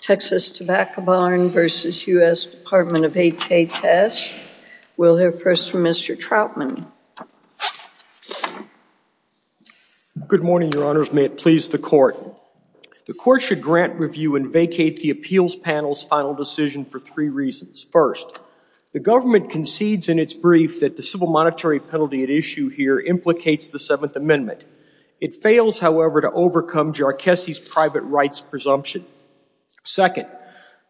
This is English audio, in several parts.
Texas Tobacco Barn v. U.S. Department of HHS. We'll hear first from Mr. Troutman. Good morning, your honors. May it please the court. The court should grant review and vacate the appeals panel's final decision for three reasons. First, the government concedes in its brief that the civil monetary penalty at issue here implicates the Seventh Amendment. It fails, however, to overcome Jarcesi's private rights presumption. Second,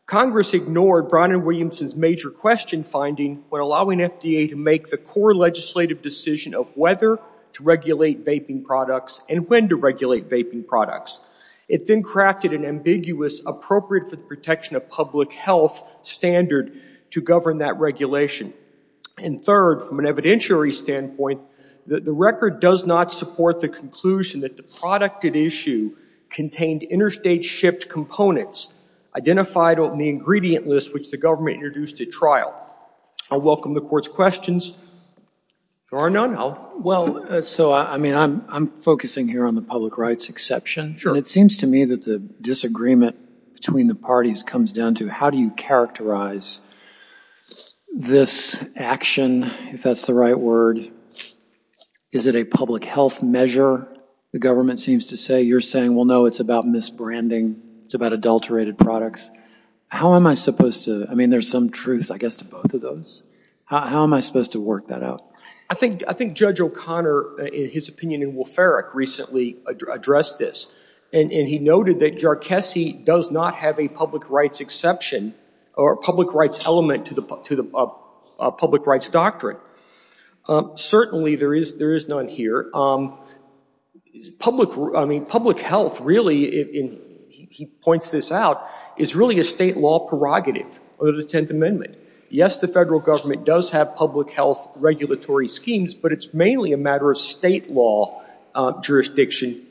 Congress ignored Brown and Williamson's major question finding when allowing FDA to make the core legislative decision of whether to regulate vaping products and when to regulate vaping products. It then crafted an ambiguous appropriate for the protection of public health standard to govern that regulation. And third, from an evidentiary standpoint, the record does not support the conclusion that the product at issue contained interstate shipped components identified on the ingredient list which the government introduced at trial. I welcome the court's questions. Your honor, no, no. Well, so, I mean, I'm focusing here on the public rights exception. Sure. And it seems to me that the disagreement between the parties comes down to how do you characterize this action, if that's the right word? Is it a public health measure, the government seems to say? You're saying, well, no, it's about misbranding. It's about adulterated products. How am I supposed to, I mean, there's some truth, I guess, to both of those. How am I supposed to work that out? I think, I think Judge O'Connor, in his opinion in Wolferic, recently addressed this. And he noted that JARCESI does not have a public rights exception or a public rights element to the public rights doctrine. Certainly, there is none here. Public, I mean, public health really, he points this out, is really a state law prerogative of the Tenth Amendment. Yes, the federal government does have public health regulatory schemes, but it's mainly a matter of state law jurisdiction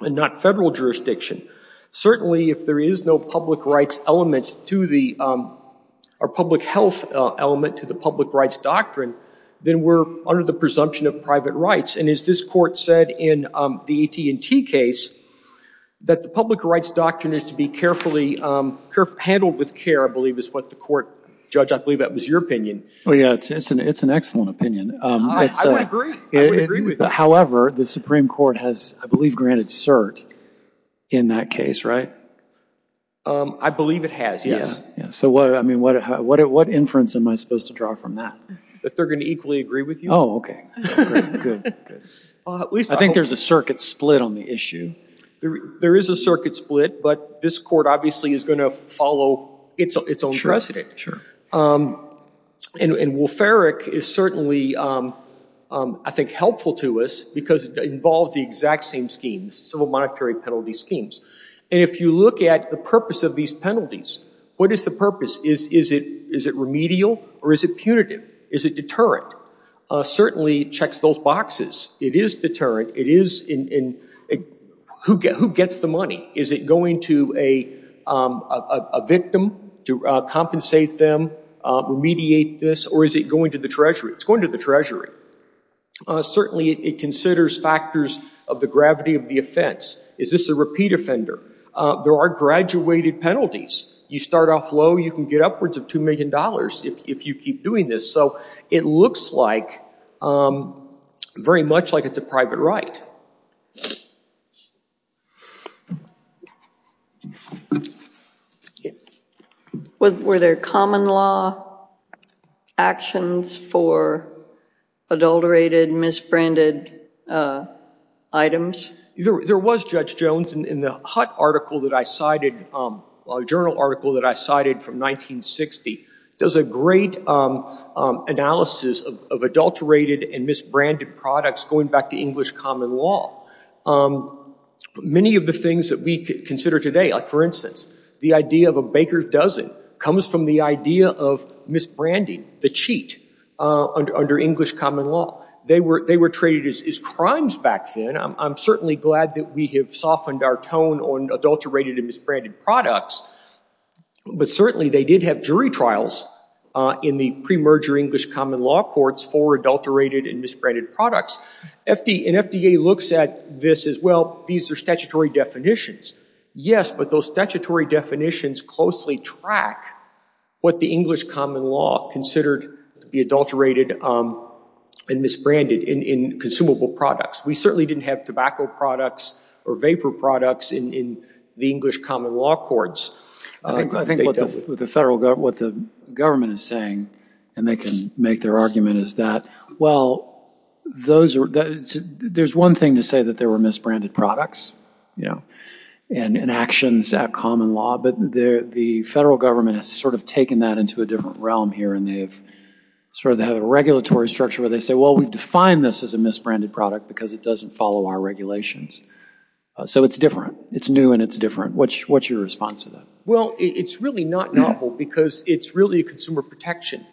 and not federal jurisdiction. Certainly, if there is no public rights element to the, or public health element to the public rights doctrine, then we're under the presumption of private rights. And as this Court said in the AT&T case, that the public rights doctrine is to be carefully handled with care, I believe is what the Court, Judge, I believe that was your opinion. Oh, yeah, it's an excellent opinion. I would agree. I would agree with that. However, the Supreme Court has, I believe, granted cert in that case, right? I believe it has, yes. So what, I mean, what inference am I supposed to draw from that? That they're going to equally agree with you. Oh, okay. I think there's a circuit split on the issue. There is a circuit split, but this Court obviously is going to follow its own precedent. Sure. And Wolf-Erik is certainly, I think, helpful to us because it involves the exact same schemes, civil monetary penalty schemes. And if you look at the purpose of these penalties, what is the purpose? Is it remedial or is it punitive? Is it deterrent? Certainly, it checks those boxes. It is deterrent. It is in, who gets the money? Is it going to a victim to compensate them, remediate this, or is it going to the Treasury? It's going to the Treasury. Certainly, it considers factors of the gravity of the offense. Is this a repeat offender? There are graduated penalties. You start off low, you can get upwards of $2 million if you keep doing this. So it looks like, very much like it's a private right. Were there common law actions for adulterated, misbranded items? There was, Judge Jones. In the Hutt article that I cited, a journal article that I cited from 1960, does a great analysis of adulterated and misbranded products going back to English common law. Many of the things that we consider today, like for instance, the idea of a baker's dozen, comes from the idea of misbranding, the cheat, under English common law. They were traded as crimes back then. I'm certainly glad that we have softened our tone on adulterated and misbranded products. But certainly, they did have jury trials in the pre-merger English common law courts for adulterated and misbranded products. And FDA looks at this as, well, these are statutory definitions. Yes, but those statutory definitions closely track what the English common law considered to be adulterated and misbranded in consumable products. We certainly didn't have tobacco products or vapor products in the English common law courts. I think what the government is saying, and they can make their argument, is that, well, there's one thing to say that there were misbranded products, you know, and actions at common law, but the federal government has sort of taken that into a different realm here, and they have sort of had a regulatory structure where they say, well, we've defined this as a misbranded product because it doesn't follow our regulations. So it's different. It's new, and it's different. What's your response to that? Well, it's really not novel because it's really a consumer protection.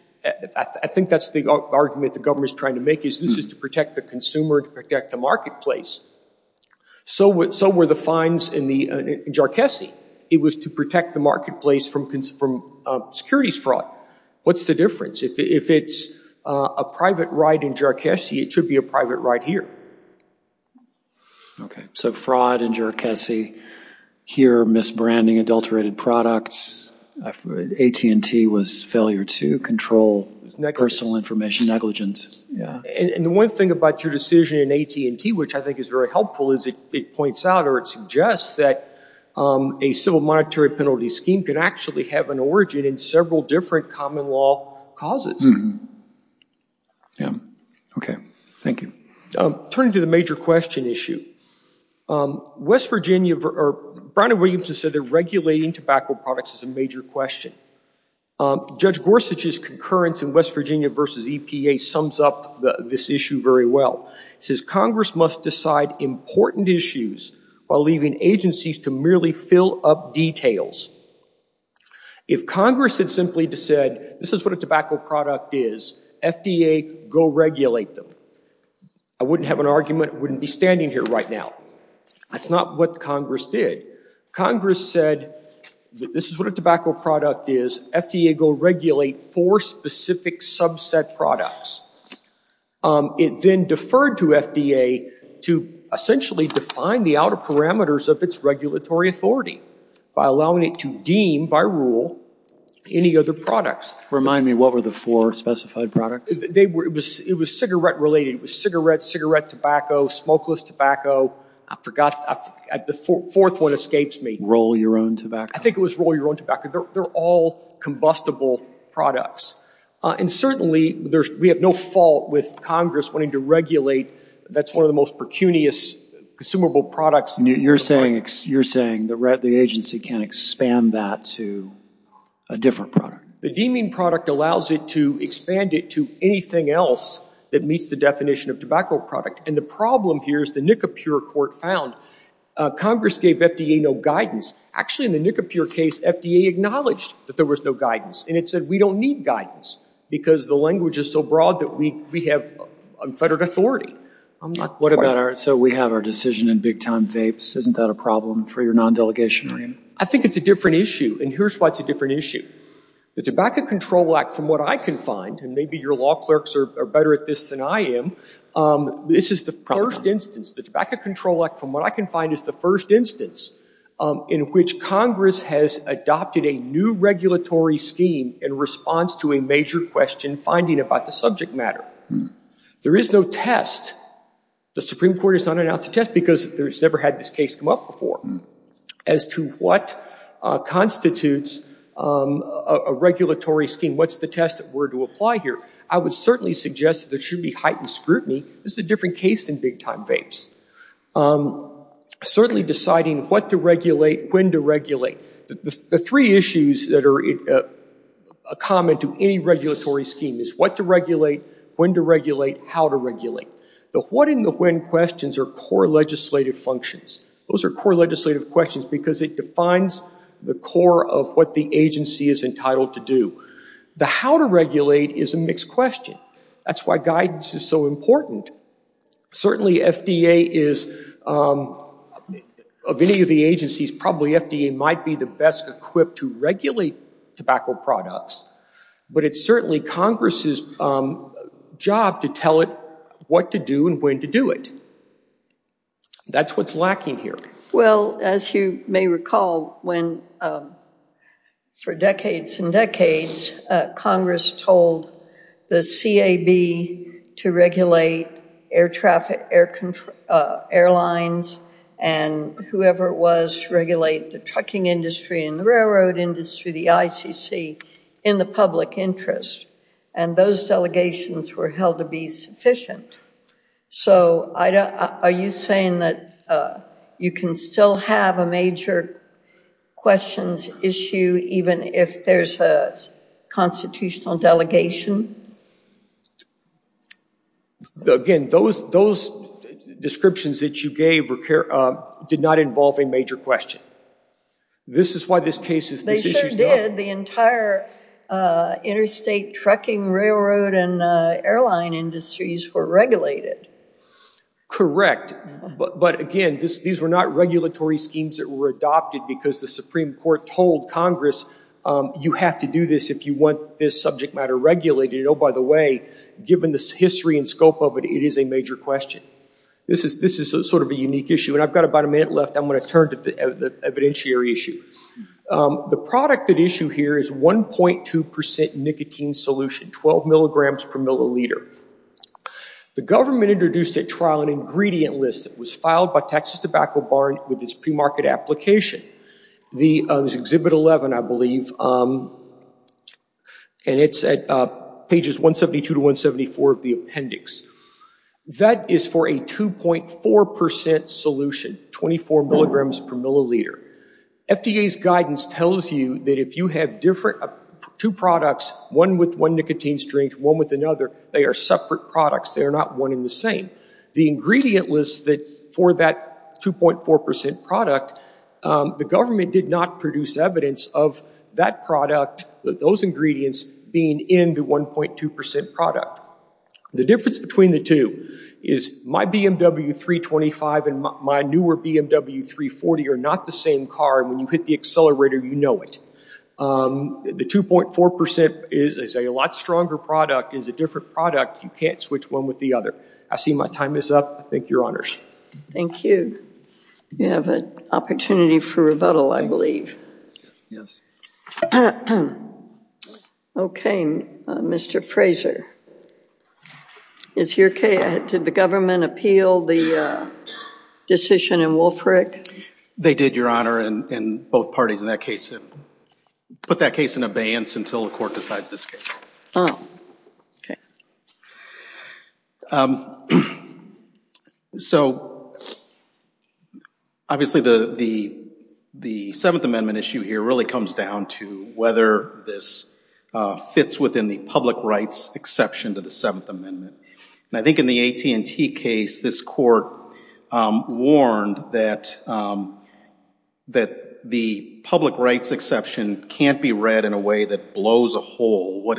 I think that's the argument the government is trying to make is this is to protect the consumer, to protect the marketplace. So were the fines in JARCESI. It was to protect the marketplace from securities fraud. What's the difference? If it's a private right in JARCESI, it should be a private right here. Okay. So fraud in JARCESI. Here, misbranding adulterated products. AT&T was failure to control personal information negligence. Yeah. And the one thing about your decision in AT&T, which I think is very helpful, is it points out or it suggests that a civil monetary penalty scheme can actually have an origin in several different common law causes. Yeah. Okay. Thank you. Turning to the major question issue, West Virginia, Brown and Williamson said they're regulating tobacco products as a major question. Judge Gorsuch's concurrence in West Virginia versus EPA sums up this issue very well. It says Congress must decide important issues while leaving agencies to merely fill up details. If Congress had simply said this is what a tobacco product is, FDA, go regulate them. I wouldn't have an argument. I wouldn't be standing here right now. That's not what Congress did. Congress said this is what a tobacco product is. FDA, go regulate four specific subset products. It then deferred to FDA to essentially define the outer parameters of its regulatory authority by allowing it to deem by rule any other products. Remind me, what were the four specified products? They were, it was cigarette related. It was cigarette, cigarette tobacco, smokeless tobacco. I forgot, the fourth one escapes me. Roll your own tobacco. I think it was roll your own tobacco. They're all combustible products. And certainly, we have no fault with Congress wanting to regulate, that's one of the most precunious consumable products. You're saying the agency can't expand that to a different product? The deeming product allows it to expand it to anything else that meets the definition of tobacco product. And the problem here is the NICAPUR court found Congress gave FDA no guidance. Actually, in the NICAPUR case, FDA acknowledged that there was no guidance. And it said we don't need guidance because the language is so broad that we have unfettered authority. I'm not quite. What about our, so we have our decision in big time vapes. Isn't that a problem for your non-delegation? I think it's a different issue. And here's why it's a different issue. The Tobacco Control Act, from what I can find, and maybe your law clerks are better at this than I am, this is the first instance. The Tobacco Control Act, from what I can find, is the first instance in which Congress has adopted a new regulatory scheme in response to a major question finding about the subject matter. There is no test. The Supreme Court has not announced a test because it's never had this case come up before. As to what constitutes a regulatory scheme, what's the test that we're to apply here? I would certainly suggest that there should be heightened scrutiny. This is a different case than big time vapes. Certainly deciding what to regulate, when to regulate. The three issues that are common to any regulatory scheme is what to regulate, when to regulate, how to regulate. The what and the when questions are core legislative functions. Those are core legislative questions because it defines the core of what the agency is entitled to do. The how to regulate is a mixed question. That's why guidance is so important. Certainly FDA is, of any of the agencies, probably FDA might be the best equipped to regulate tobacco products. But it's certainly Congress's job to tell it what to do and when to do it. That's what's lacking here. Well, as you may recall, for decades and decades, Congress told the CAB to regulate air traffic, airlines, and whoever it was to regulate the trucking industry and the railroad industry, the ICC, in the public interest. And those delegations were held to be sufficient. So are you saying that you can still have a major questions issue, even if there's a constitutional delegation? Again, those descriptions that you gave did not involve a major question. This is why this issue is not. They sure did. The entire interstate trucking, railroad, and airline industries were regulated. Correct. But again, these were not regulatory schemes that were adopted because the Supreme Court told Congress you have to do this if you want this subject matter regulated. Oh, by the way, given the history and scope of it, it is a major question. This is sort of a unique issue. And I've got about a minute left. I'm going to turn to the evidentiary issue. The product at issue here is 1.2% nicotine solution, 12 milligrams per milliliter. The government introduced at trial an ingredient list that was filed by Texas Tobacco Barn with its premarket application. It was Exhibit 11, I believe, and it's at pages 172 to 174 of the appendix. That is for a 2.4% solution, 24 milligrams per milliliter. FDA's guidance tells you that if you have two products, one with one nicotine string, one with another, they are separate products. They are not one and the same. The ingredient list for that 2.4% product, the government did not produce evidence of that product, those ingredients, being in the 1.2% product. The difference between the two is my BMW 325 and my newer BMW 340 are not the same car. When you hit the accelerator, you know it. The 2.4% is a lot stronger product, is a different product. You can't switch one with the other. I see my time is up. Thank your honors. Thank you. You have an opportunity for rebuttal, I believe. Yes. Okay, Mr. Fraser, is your case, did the government appeal the decision in Wolfrick? They did, your honor, and both parties in that case put that case in abeyance until the court decides this case. Oh, okay. So, obviously the Seventh Amendment issue here really comes down to whether this fits within the public rights exception to the Seventh Amendment. And I think in the AT&T case, this court warned that the public rights exception can't be read in a way that blows a hole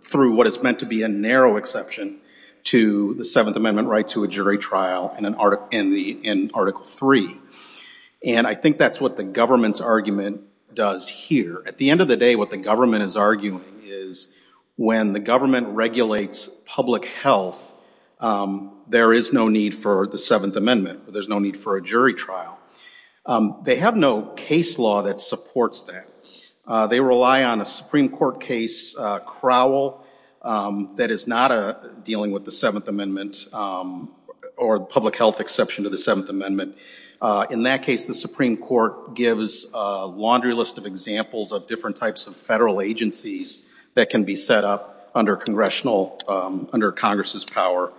through what is meant to be a narrow exception to the Seventh Amendment right to a jury trial in Article 3. And I think that's what the government's argument does here. At the end of the day, what the government is arguing is when the government regulates public health, there is no need for the Seventh Amendment. There's no need for a jury trial. They have no case law that supports that. They rely on a Supreme Court case, Crowell, that is not dealing with the Seventh Amendment or public health exception to the Seventh Amendment. In that case, the Supreme Court gives a laundry list of examples of different types of federal agencies that can be set up under Congress's power,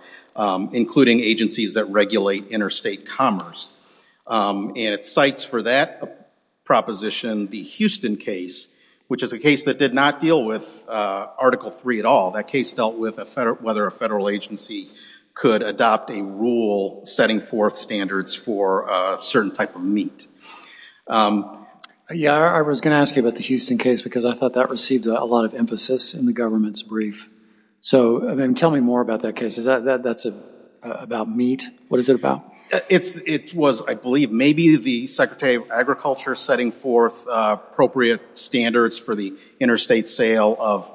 including agencies that regulate interstate commerce. And it cites for that proposition the Houston case, which is a case that did not deal with Article 3 at all. That case dealt with whether a federal agency could adopt a rule setting forth standards for a certain type of meat. Yeah, I was going to ask you about the Houston case because I thought that received a lot of emphasis in the government's brief. So tell me more about that case. Is that about meat? What is it about? It was, I believe, maybe the Secretary of Agriculture setting forth appropriate standards for the interstate sale of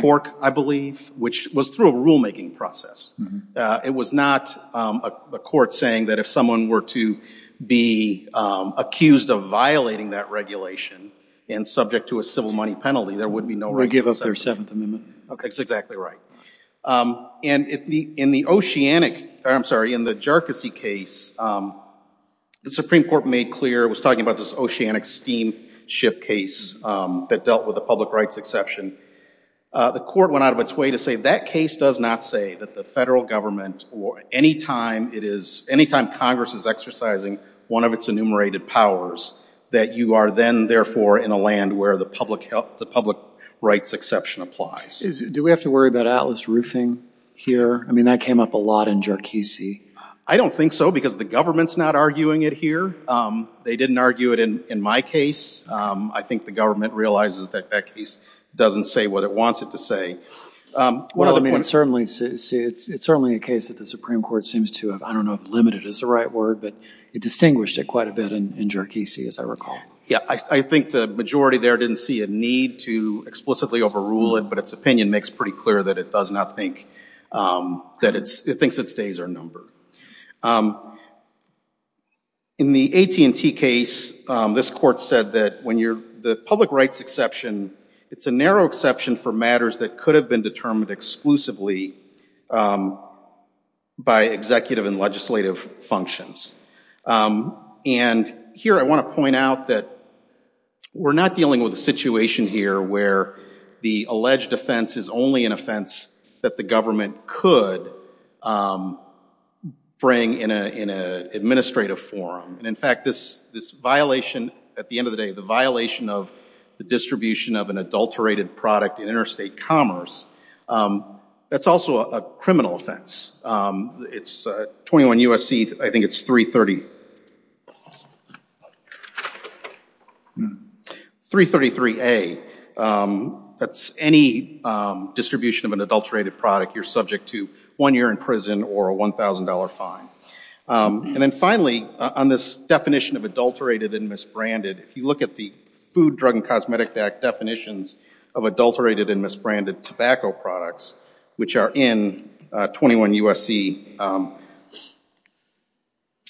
pork, I believe, which was through a rulemaking process. It was not a court saying that if someone were to be accused of violating that regulation and subject to a civil money penalty, there would be no regulation. Or give up their Seventh Amendment. That's exactly right. And in the oceanic, I'm sorry, in the Jerkacy case, the Supreme Court made clear, was talking about this oceanic steamship case that dealt with the public rights exception. The court went out of its way to say that case does not say that the federal government or any time it is, any time Congress is exercising one of its enumerated powers that you are then, therefore, in a land where the public rights exception applies. Do we have to worry about Atlas Roofing here? I mean, that came up a lot in Jerkacy. I don't think so because the government's not arguing it here. They didn't argue it in my case. I think the government realizes that that case doesn't say what it wants it to say. Well, I mean, it's certainly a case that the Supreme Court seems to have, I don't know if limited is the right word, but it distinguished it quite a bit in Jerkacy, as I recall. Yeah, I think the majority there didn't see a need to explicitly overrule it, but its opinion makes pretty clear that it does not think that it's, it thinks its days are numbered. In the AT&T case, this court said that when you're, the public rights exception, it's a narrow exception for matters that could have been determined exclusively by executive and legislative functions. And here I want to point out that we're not dealing with a situation here where the alleged offense is only an offense that the government could bring in an administrative forum. And in fact, this violation, at the end of the day, the violation of the distribution of an adulterated product in interstate commerce, that's also a criminal offense. It's 21 U.S.C., I think it's 330, 333A, that's any distribution of an adulterated product you're subject to one year in prison or a $1,000 fine. And then finally, on this definition of adulterated and misbranded, if you look at the Food, Drug, and Cosmetic Act definitions of adulterated and misbranded tobacco products, which are in 21 U.S.C.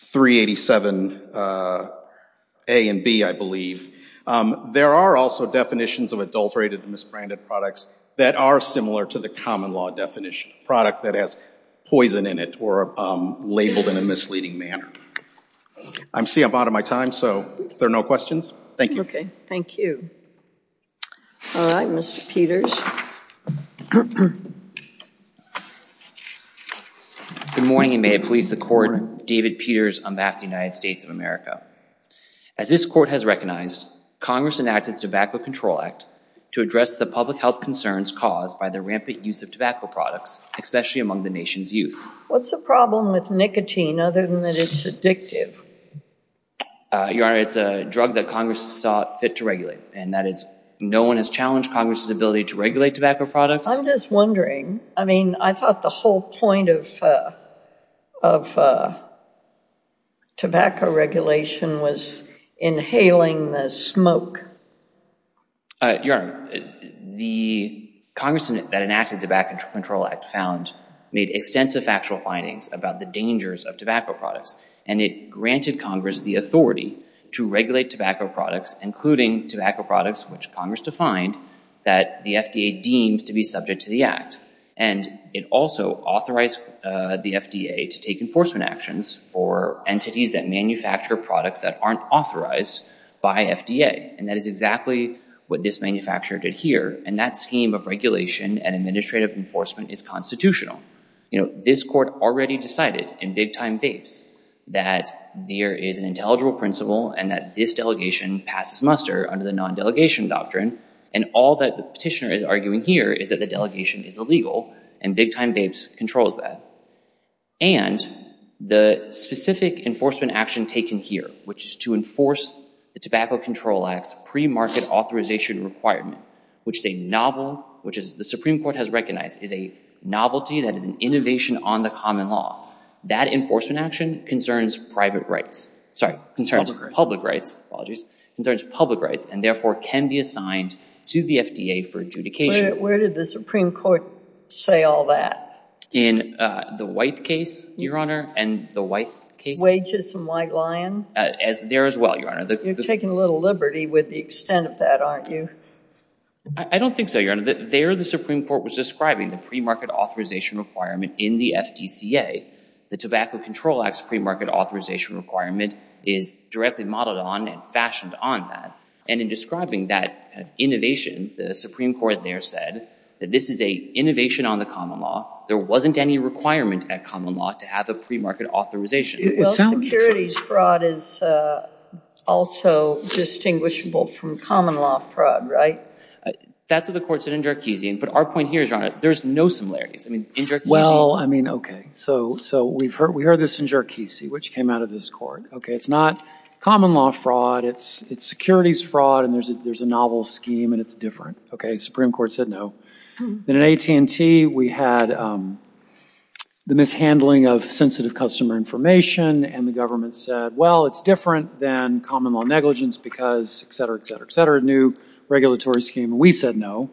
387A and B, I believe, there are also definitions of adulterated and misbranded products that are similar to the common law definition, a product that has poison in it or labeled in a misleading manner. I see I'm out of my time, so if there are no questions, thank you. Okay, thank you. All right, Mr. Peters. Good morning, and may it please the Court, David Peters on behalf of the United States of America. As this Court has recognized, Congress enacted the Tobacco Control Act to address the public health concerns caused by the rampant use of tobacco products, especially among the nation's youth. What's the problem with nicotine other than that it's addictive? Your Honor, it's a drug that Congress saw fit to regulate, and that is no one has challenged Congress's ability to regulate tobacco products. I'm just wondering, I mean, I thought the whole point of tobacco regulation was inhaling the smoke. Your Honor, the Congress that enacted the Tobacco Control Act found made extensive factual findings about the dangers of tobacco products, and it granted Congress the authority to regulate tobacco products, including tobacco products, which Congress defined that the FDA deemed to be subject to the Act. And it also authorized the FDA to take enforcement actions for entities that manufacture products that aren't authorized by FDA, and that is exactly what this manufacturer did here, and that scheme of regulation and administrative enforcement is constitutional. You know, this Court already decided in big-time vapes that there is an intelligible principle and that this delegation passes muster under the non-delegation doctrine, and all that the petitioner is arguing here is that the delegation is illegal, and big-time vapes controls that. And the specific enforcement action taken here, which is to enforce the Tobacco Control Act's pre-market authorization requirement, which is a novel, which the Supreme Court has recognized is a novelty that is an innovation on the common law. That enforcement action concerns private rights. Sorry, concerns public rights. Concerns public rights, and therefore can be assigned to the FDA for adjudication. Where did the Supreme Court say all that? In the White case, Your Honor, and the White case. Wages from White Lion? There as well, Your Honor. You're taking a little liberty with the extent of that, aren't you? I don't think so, Your Honor. There the Supreme Court was describing the pre-market authorization requirement in the FDCA. The Tobacco Control Act's pre-market authorization requirement is directly modeled on and fashioned on that. And in describing that innovation, the Supreme Court there said that this is an innovation on the common law. There wasn't any requirement at common law to have a pre-market authorization. Well, securities fraud is also distinguishable from common law fraud, right? That's what the Court said in Jarchezian. But our point here is, Your Honor, there's no similarities. I mean, in Jarchezian? Well, I mean, okay. So we heard this in Jarchezian, which came out of this court. Okay, it's not common law fraud. It's securities fraud, and there's a novel scheme, and it's different. Okay, the Supreme Court said no. In AT&T, we had the mishandling of sensitive customer information, and the government said, well, it's different than common law negligence because, et cetera, et cetera, et cetera, new regulatory scheme. We said no.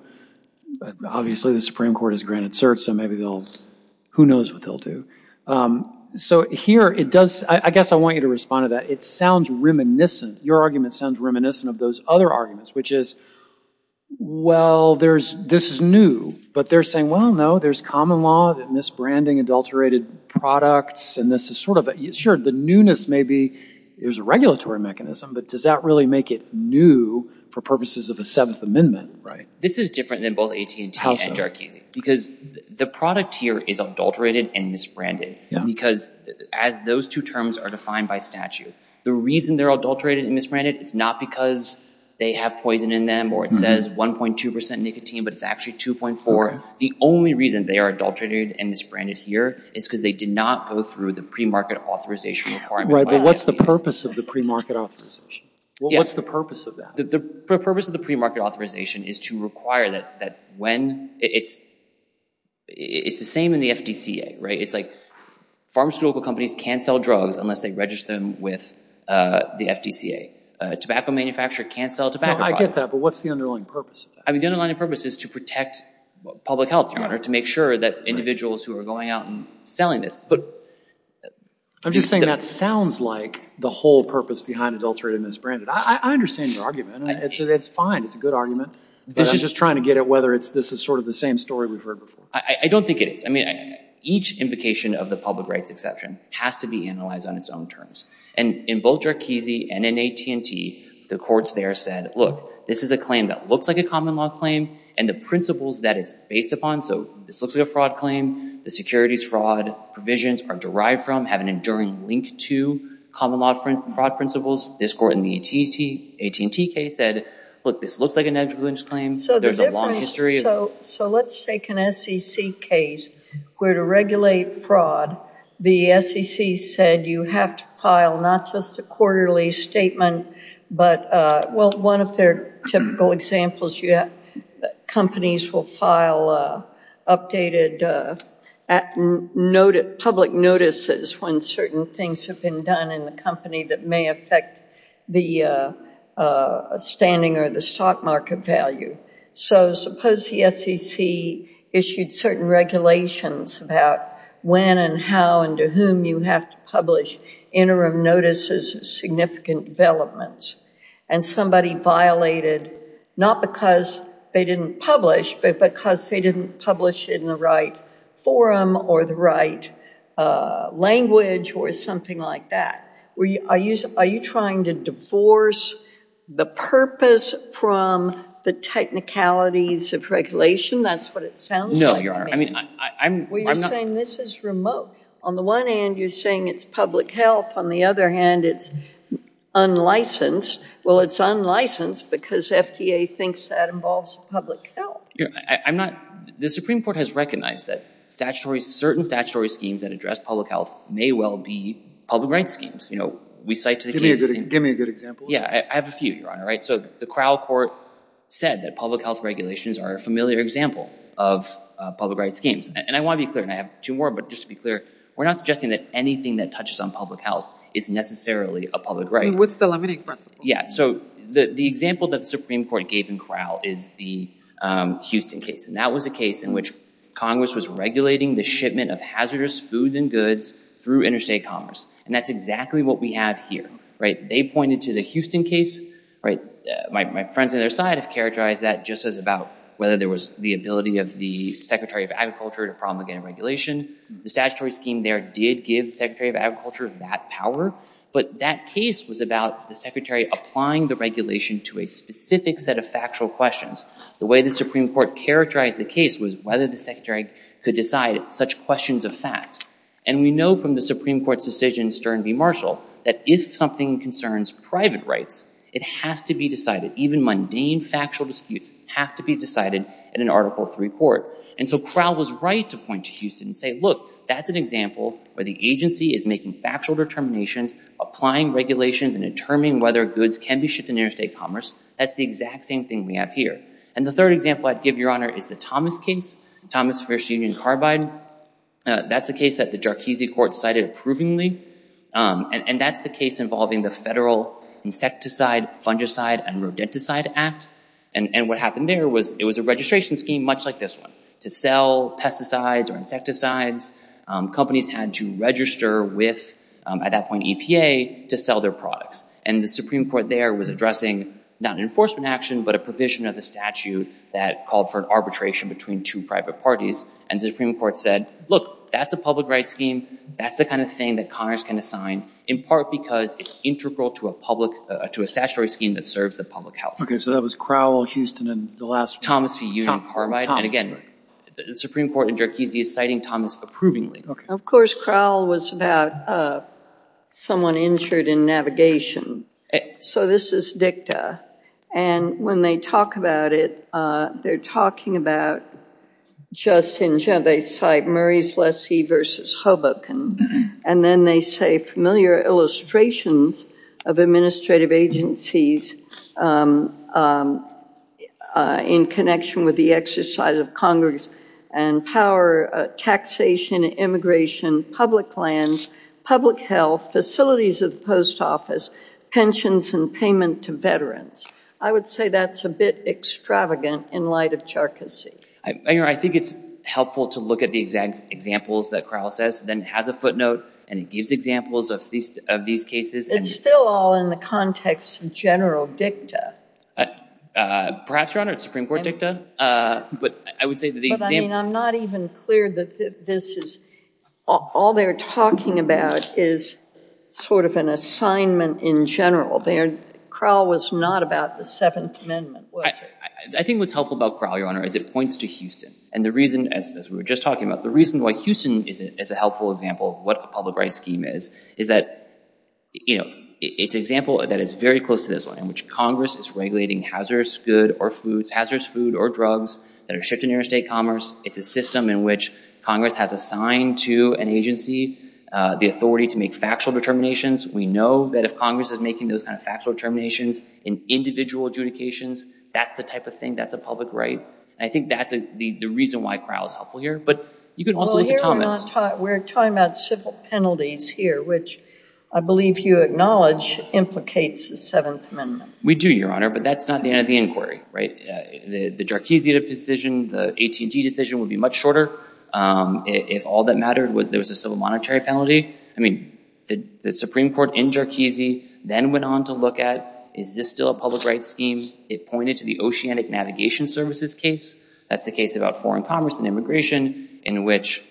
Obviously, the Supreme Court has granted certs, so maybe they'll, who knows what they'll do. So here it does, I guess I want you to respond to that. It sounds reminiscent, your argument sounds reminiscent of those other arguments, which is, well, this is new, but they're saying, well, no, there's common law, misbranding, adulterated products, and this is sort of, sure, the newness may be, there's a regulatory mechanism, but does that really make it new for purposes of a Seventh Amendment, right? This is different than both AT&T and Jarkizi because the product here is adulterated and misbranded because as those two terms are defined by statute, the reason they're adulterated and misbranded, it's not because they have poison in them or it says 1.2% nicotine, but it's actually 2.4. The only reason they are adulterated and misbranded here is because they did not go through the premarket authorization requirement. Right, but what's the purpose of the premarket authorization? What's the purpose of that? The purpose of the premarket authorization is to require that when, it's the same in the FDCA, right? It's like pharmaceutical companies can't sell drugs unless they register them with the FDCA. A tobacco manufacturer can't sell tobacco products. I get that, but what's the underlying purpose of that? I mean, the underlying purpose is to protect public health, Your Honor, to make sure that individuals who are going out and selling this. I'm just saying that sounds like the whole purpose behind adulterated and misbranded. I understand your argument. It's fine. It's a good argument. But I'm just trying to get at whether this is sort of the same story we've heard before. I don't think it is. I mean, each invocation of the public rights exception has to be analyzed on its own terms. And in both Jarkizi and in AT&T, the courts there said, look, this is a claim that looks like a common law claim, and the principles that it's based upon, so this looks like a fraud claim, the securities fraud provisions are derived from, have an enduring link to common law fraud principles. This court in the AT&T case said, look, this looks like a negligence claim. So there's a long history. So let's take an SEC case where to regulate fraud, the SEC said you have to file not just a quarterly statement, but one of their typical examples, companies will file updated public notices when certain things have been done in the company that may affect the standing or the stock market value. So suppose the SEC issued certain regulations about when and how and to whom you have to publish interim notices of significant developments, and somebody violated not because they didn't publish, but because they didn't publish it in the right forum or the right language or something like that. Are you trying to divorce the purpose from the technicalities of regulation? That's what it sounds like. No, you're not. Well, you're saying this is remote. On the one hand, you're saying it's public health. On the other hand, it's unlicensed. Well, it's unlicensed because FDA thinks that involves public health. The Supreme Court has recognized that certain statutory schemes that address public health may well be public rights schemes. Give me a good example. I have a few, Your Honor. So the Crowell Court said that public health regulations are a familiar example of public rights schemes. And I want to be clear, and I have two more, but just to be clear, we're not suggesting that anything that touches on public health is necessarily a public right. I mean, what's the limiting principle? Yeah, so the example that the Supreme Court gave in Crowell is the Houston case, and that was a case in which Congress was regulating the shipment of hazardous food and goods through interstate commerce, and that's exactly what we have here. They pointed to the Houston case. My friends on their side have characterized that just as about whether there was the ability of the Secretary of Agriculture to promulgate a regulation. The statutory scheme there did give the Secretary of Agriculture that power, but that case was about the Secretary applying the regulation to a specific set of factual questions. The way the Supreme Court characterized the case was whether the Secretary could decide such questions of fact. And we know from the Supreme Court's decision, Stern v. Marshall, that if something concerns private rights, it has to be decided. Even mundane factual disputes have to be decided in an Article III court. And so Crowell was right to point to Houston and say, look, that's an example where the agency is making factual determinations, applying regulations, and determining whether goods can be shipped in interstate commerce. That's the exact same thing we have here. And the third example I'd give, Your Honor, is the Thomas case, Thomas v. Union Carbide. That's the case that the Jarchese court cited approvingly, and that's the case involving the Federal Insecticide, Fungicide, and Rodenticide Act. And what happened there was it was a registration scheme much like this one to sell pesticides or insecticides. Companies had to register with, at that point, EPA to sell their products. And the Supreme Court there was addressing not an enforcement action, but a provision of the statute that called for an arbitration between two private parties. And the Supreme Court said, look, that's a public rights scheme. That's the kind of thing that Congress can assign, in part because it's integral to a statutory scheme that serves the public health. OK. So that was Crowell, Houston, and the last one? Thomas v. Union Carbide. Thomas. And, again, the Supreme Court in Jarchese is citing Thomas approvingly. Of course, Crowell was about someone injured in navigation. So this is dicta. And when they talk about it, they're talking about just in general, they cite Murray's lessee versus Hoboken. And then they say familiar illustrations of administrative agencies in connection with the exercise of Congress and power, taxation, immigration, public lands, public health, facilities of the post office, pensions, and payment to veterans. I would say that's a bit extravagant in light of Jarchese. I think it's helpful to look at the examples that Crowell says. Then it has a footnote, and it gives examples of these cases. It's still all in the context of general dicta. Perhaps, Your Honor. It's Supreme Court dicta. But I would say that the example. But, I mean, I'm not even clear that this is all they're talking about is sort of an assignment in general. Crowell was not about the Seventh Amendment, was he? I think what's helpful about Crowell, Your Honor, is it points to Houston. And the reason, as we were just talking about, the reason why Houston is a helpful example of what a public rights scheme is is that it's an example that is very close to this one, in which Congress is regulating hazardous goods or foods, hazardous food or drugs that are shipped into interstate commerce. It's a system in which Congress has assigned to an agency the authority to make factual determinations. We know that if Congress is making those kind of factual determinations in individual adjudications, that's the type of thing, that's a public right. I think that's the reason why Crowell is helpful here. But you could also look at Thomas. We're talking about civil penalties here, which I believe you acknowledge implicates the Seventh Amendment. We do, Your Honor, but that's not the end of the inquiry, right? The Jarchese decision, the AT&T decision would be much shorter if all that mattered was there was a civil monetary penalty. I mean, the Supreme Court in Jarchese then went on to look at, is this still a public rights scheme? It pointed to the Oceanic Navigation Services case. That's the case about foreign commerce and immigration in which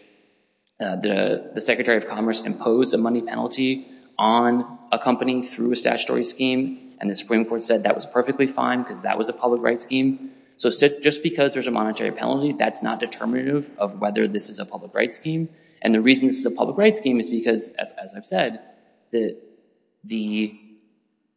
the Secretary of Commerce imposed a money penalty on a company through a statutory scheme, and the Supreme Court said that was perfectly fine because that was a public rights scheme. So just because there's a monetary penalty, that's not determinative of whether this is a public rights scheme. And the reason this is a public rights scheme is because, as I've said, the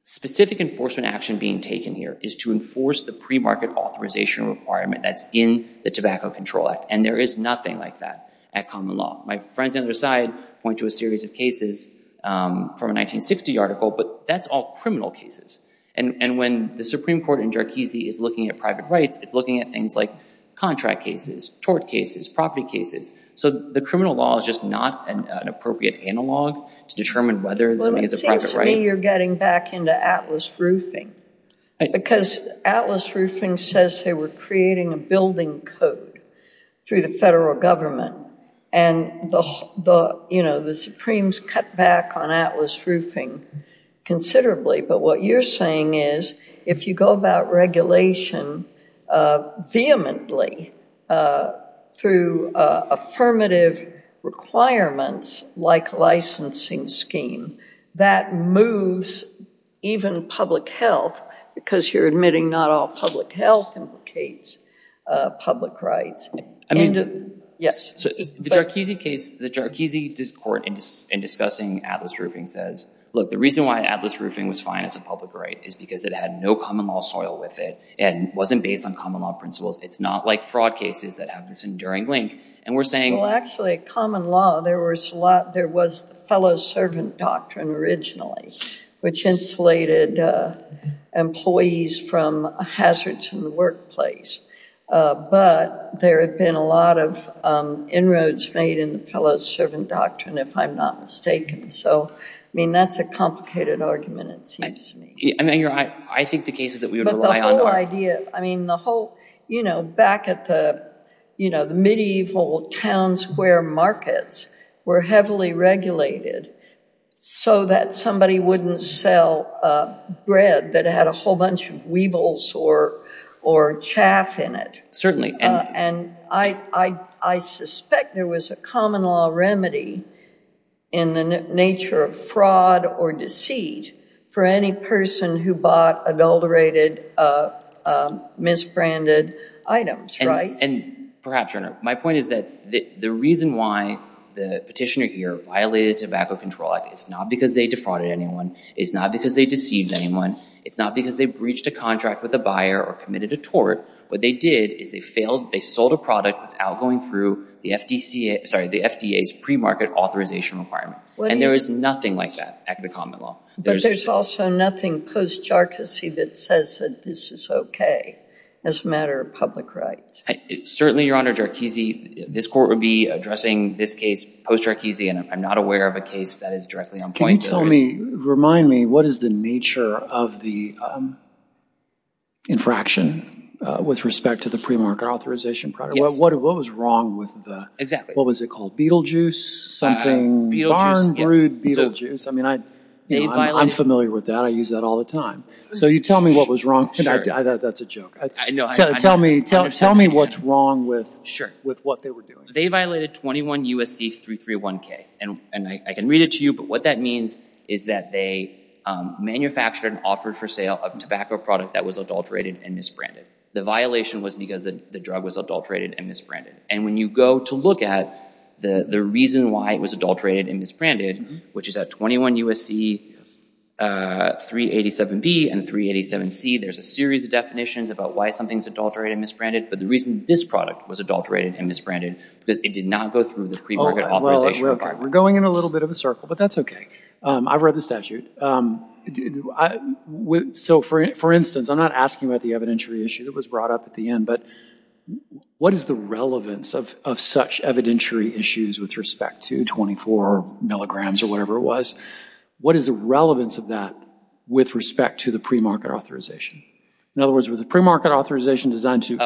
specific enforcement action being taken here is to enforce the premarket authorization requirement that's in the Tobacco Control Act, and there is nothing like that at common law. My friends on the other side point to a series of cases from a 1960 article, but that's all criminal cases. And when the Supreme Court in Jarchese is looking at private rights, it's looking at things like contract cases, tort cases, property cases. So the criminal law is just not an appropriate analog to determine whether something is a private right. Well, it seems to me you're getting back into Atlas Roofing because Atlas Roofing says they were creating a building code through the federal government, and the Supremes cut back on Atlas Roofing considerably. But what you're saying is if you go about regulation vehemently through affirmative requirements like licensing scheme, that moves even public health, because you're admitting not all public health implicates public rights. The Jarchese court in discussing Atlas Roofing says, look, the reason why Atlas Roofing was fine as a public right is because it had no common law soil with it and wasn't based on common law principles. It's not like fraud cases that have this enduring link. Well, actually, common law, there was the fellow-servant doctrine originally, which insulated employees from hazards in the workplace. But there had been a lot of inroads made in the fellow-servant doctrine, if I'm not mistaken. So, I mean, that's a complicated argument, it seems to me. I think the cases that we would rely on... You know, back at the medieval town square markets were heavily regulated so that somebody wouldn't sell bread that had a whole bunch of weevils or chaff in it. Certainly. And I suspect there was a common law remedy in the nature of fraud or deceit for any person who bought adulterated, misbranded items, right? And perhaps, Your Honor, my point is that the reason why the petitioner here violated the Tobacco Control Act is not because they defrauded anyone. It's not because they deceived anyone. It's not because they breached a contract with a buyer or committed a tort. What they did is they sold a product without going through the FDA's pre-market authorization requirement. And there is nothing like that at the common law. But there's also nothing post-Jarczy that says that this is okay as a matter of public rights. Certainly, Your Honor, Jarczy, this Court would be addressing this case post-Jarczy, and I'm not aware of a case that is directly on point. Can you tell me, remind me, what is the nature of the infraction with respect to the pre-market authorization product? What was wrong with the... Exactly. What was it called? Beetlejuice? Something... Beetlejuice, yes. Barn brewed Beetlejuice. I mean, I'm familiar with that. I use that all the time. So you tell me what was wrong. That's a joke. Tell me what's wrong with what they were doing. They violated 21 U.S.C. 331K. And I can read it to you, but what that means is that they manufactured and offered for sale a tobacco product that was adulterated and misbranded. The violation was because the drug was adulterated and misbranded. And when you go to look at the reason why it was adulterated and misbranded, which is at 21 U.S.C. 387B and 387C, there's a series of definitions about why something's adulterated and misbranded, but the reason this product was adulterated and misbranded because it did not go through the pre-market authorization. We're going in a little bit of a circle, but that's okay. I've read the statute. So for instance, I'm not asking about the evidentiary issue that was brought up at the end, but what is the relevance of such evidentiary issues with respect to 24 milligrams or whatever it was? What is the relevance of that with respect to the pre-market authorization? In other words, was the pre-market authorization designed to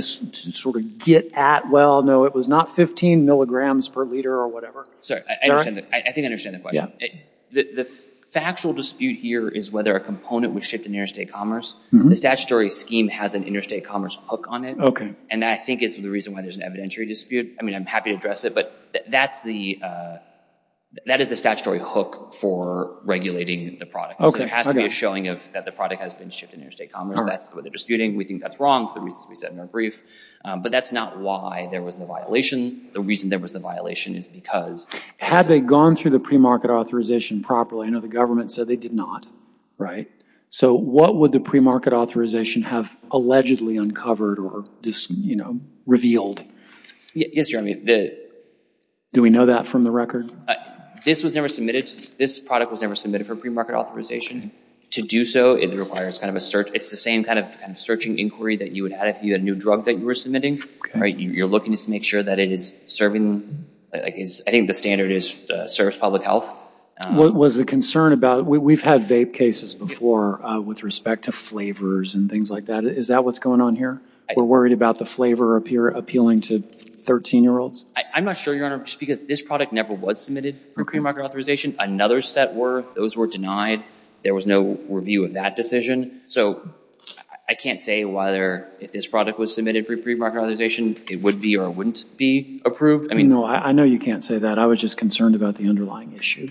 sort of get at, well, no, it was not 15 milligrams per liter or whatever? Sorry, I think I understand the question. The factual dispute here is whether a component was shipped in interstate commerce. The statutory scheme has an interstate commerce hook on it, and that, I think, is the reason why there's an evidentiary dispute. I mean, I'm happy to address it, but that is the statutory hook for regulating the product. There has to be a showing that the product has been shipped in interstate commerce. That's what they're disputing. We think that's wrong for the reasons we said in our brief, but that's not why there was a violation. The reason there was a violation is because... Had they gone through the pre-market authorization properly? I know the government said they did not, right? So what would the pre-market authorization have allegedly uncovered or revealed? Yes, Jeremy. Do we know that from the record? This was never submitted. This product was never submitted for pre-market authorization. To do so, it requires kind of a search. It's the same kind of searching inquiry that you would have if you had a new drug that you were submitting. You're looking to make sure that it is serving... I think the standard is service public health. What was the concern about... We've had vape cases before with respect to flavors and things like that. Is that what's going on here? We're worried about the flavor appealing to 13-year-olds? I'm not sure, Your Honor, because this product never was submitted for pre-market authorization. Another set were. Those were denied. There was no review of that decision. So I can't say whether if this product was submitted for pre-market authorization, it would be or wouldn't be approved. No, I know you can't say that. I was just concerned about the underlying issue.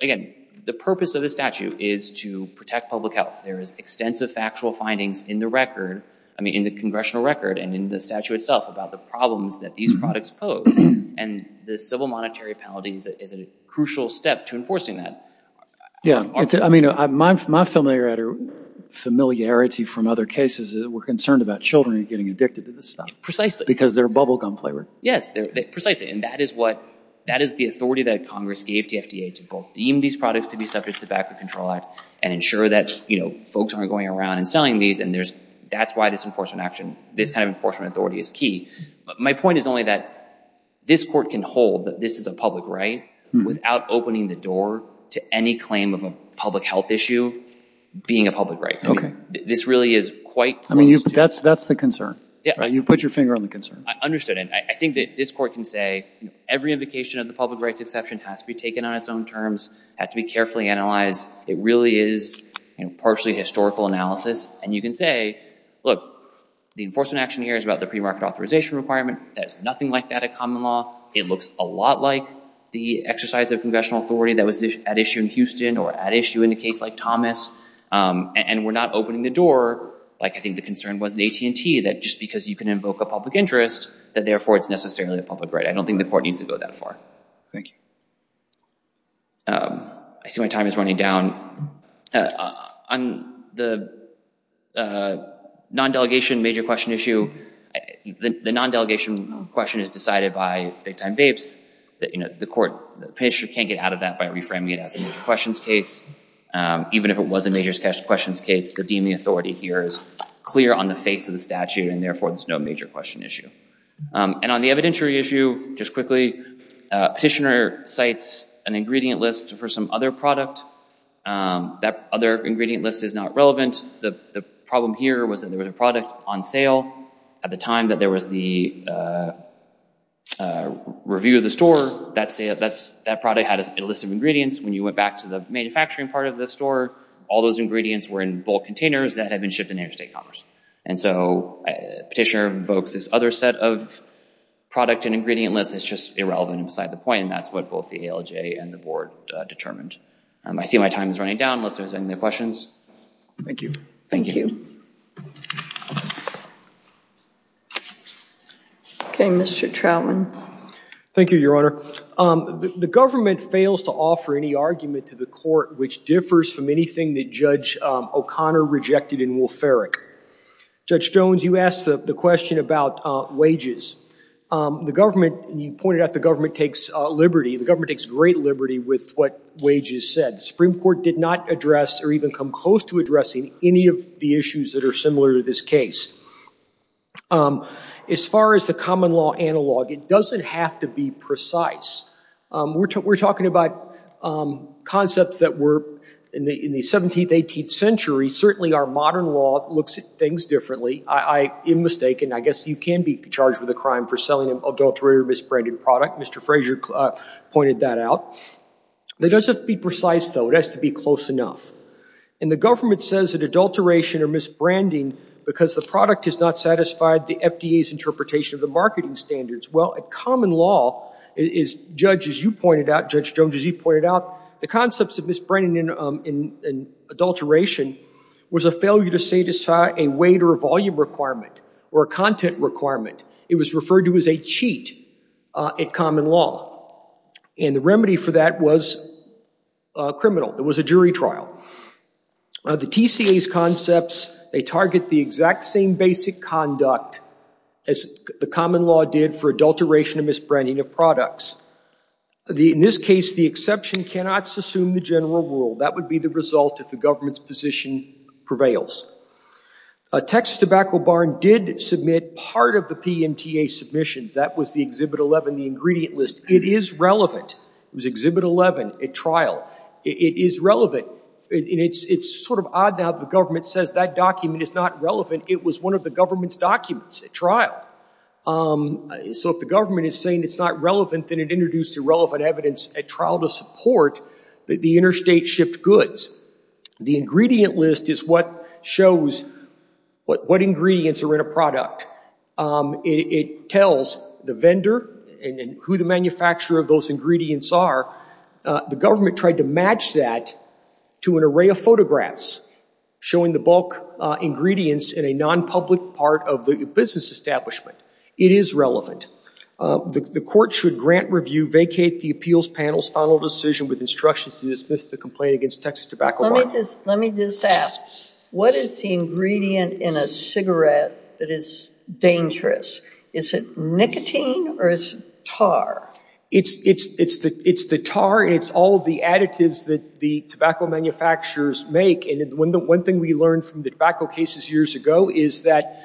Again, the purpose of the statute is to protect public health. There is extensive factual findings in the record, in the congressional record and in the statute itself, about the problems that these products pose. And the civil monetary penalty is a crucial step to enforcing that. My familiarity from other cases is we're concerned about children getting addicted to this stuff. Precisely. Because they're bubblegum flavored. Yes, precisely. And that is the authority that Congress gave to FDA to both deem these products to be subject to the VACA Control Act and ensure that folks aren't going around and selling these. And that's why this enforcement action, this kind of enforcement authority is key. My point is only that this Court can hold that this is a public right without opening the door to any claim of a public health issue being a public right. This really is quite close to... That's the concern. You've put your finger on the concern. I understood. And I think that this Court can say every invocation of the public rights exception has to be taken on its own terms, has to be carefully analyzed. It really is partially historical analysis. And you can say, look, the enforcement action here is about the premarket authorization requirement. There's nothing like that at common law. It looks a lot like the exercise of congressional authority that was at issue in Houston or at issue in a case like Thomas. And we're not opening the door. I think the concern was in AT&T that just because you can invoke a public interest that therefore it's necessarily a public right. I don't think the Court needs to go that far. Thank you. I see my time is running down. On the non-delegation major question issue, the non-delegation question is decided by big-time vapes. The court can't get out of that by reframing it as a major questions case. Even if it was a major questions case, the deeming authority here is clear on the face of the statute and therefore there's no major question issue. And on the evidentiary issue, just quickly, petitioner cites an ingredient list for some other product. That other ingredient list is not relevant. The problem here was that there was a product on sale at the time that there was the review of the store. That product had a list of ingredients. When you went back to the manufacturing part of the store, all those ingredients were in bulk containers that had been shipped in interstate commerce. And so petitioner invokes this other set of product and ingredient list that's just irrelevant and beside the point, and that's what both the ALJ and the board determined. I see my time is running down. Unless there's any other questions. Thank you. Thank you. Okay, Mr. Troutman. Thank you, Your Honor. The government fails to offer any argument to the court which differs from anything that Judge O'Connor rejected in Wolf-Ferrick. Judge Jones, you asked the question about wages. The government, and you pointed out the government takes liberty, the government takes great liberty with what wages said. The Supreme Court did not address or even come close to addressing any of the issues that are similar to this case. As far as the common law analog, it doesn't have to be precise. We're talking about concepts that were in the 17th, 18th century. Certainly our modern law looks at things differently. I am mistaken. I guess you can be charged with a crime for selling an adulterated or misbranded product. Mr. Fraser pointed that out. It doesn't have to be precise, though. It has to be close enough. And the government says that adulteration or misbranding because the product has not satisfied the FDA's interpretation of the marketing standards. Well, a common law is, Judge, as you pointed out, Judge Jones, as you pointed out, the concepts of misbranding and adulteration was a failure to satisfy a weight or volume requirement or a content requirement. It was referred to as a cheat in common law. And the remedy for that was criminal. It was a jury trial. The TCA's concepts, they target the exact same basic conduct as the common law did for adulteration or misbranding of products. In this case, the exception cannot assume the general rule. That would be the result if the government's position prevails. Texas Tobacco Barn did submit part of the PMTA submissions. That was the Exhibit 11, the ingredient list. It is relevant. It was Exhibit 11, a trial. It is relevant. It's sort of odd now that the government says that document is not relevant. It was one of the government's documents at trial. So if the government is saying it's not relevant, then it introduced irrelevant evidence at trial to support that the interstate shipped goods. The ingredient list is what shows what ingredients are in a product. It tells the vendor and who the manufacturer of those ingredients are. The government tried to match that to an array of photographs showing the bulk ingredients in a non-public part of the business establishment. It is relevant. The court should grant review, vacate the appeals panel's final decision with instructions to dismiss the complaint against Texas Tobacco Barn. Let me just ask, what is the ingredient in a cigarette that is dangerous? Is it nicotine or is it tar? It's the tar. It's all of the additives that the tobacco manufacturers make and one thing we learned from the tobacco cases years ago is that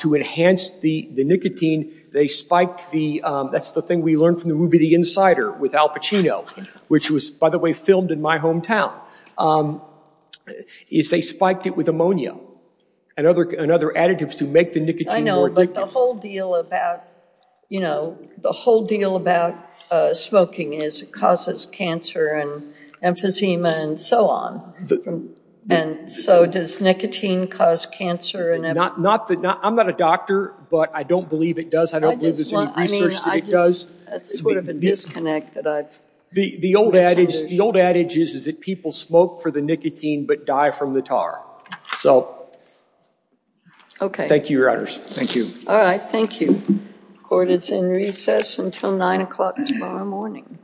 to enhance the nicotine, they spiked the, that's the thing we learned from the movie The Insider with Al Pacino, which was, by the way, filmed in my hometown, is they spiked it with ammonia and other additives to make the nicotine more addictive. I know, but the whole deal about, you know, the whole deal about smoking is it causes cancer and emphysema and so on. And so does nicotine cause cancer? I'm not a doctor, but I don't believe it does. I don't believe there's any research that it does. That's sort of a disconnect that I've misunderstood. The old adage is that people smoke for the nicotine but die from the tar. So, thank you, Your Honors. Thank you. All right, thank you. Court is in recess until 9 o'clock tomorrow morning.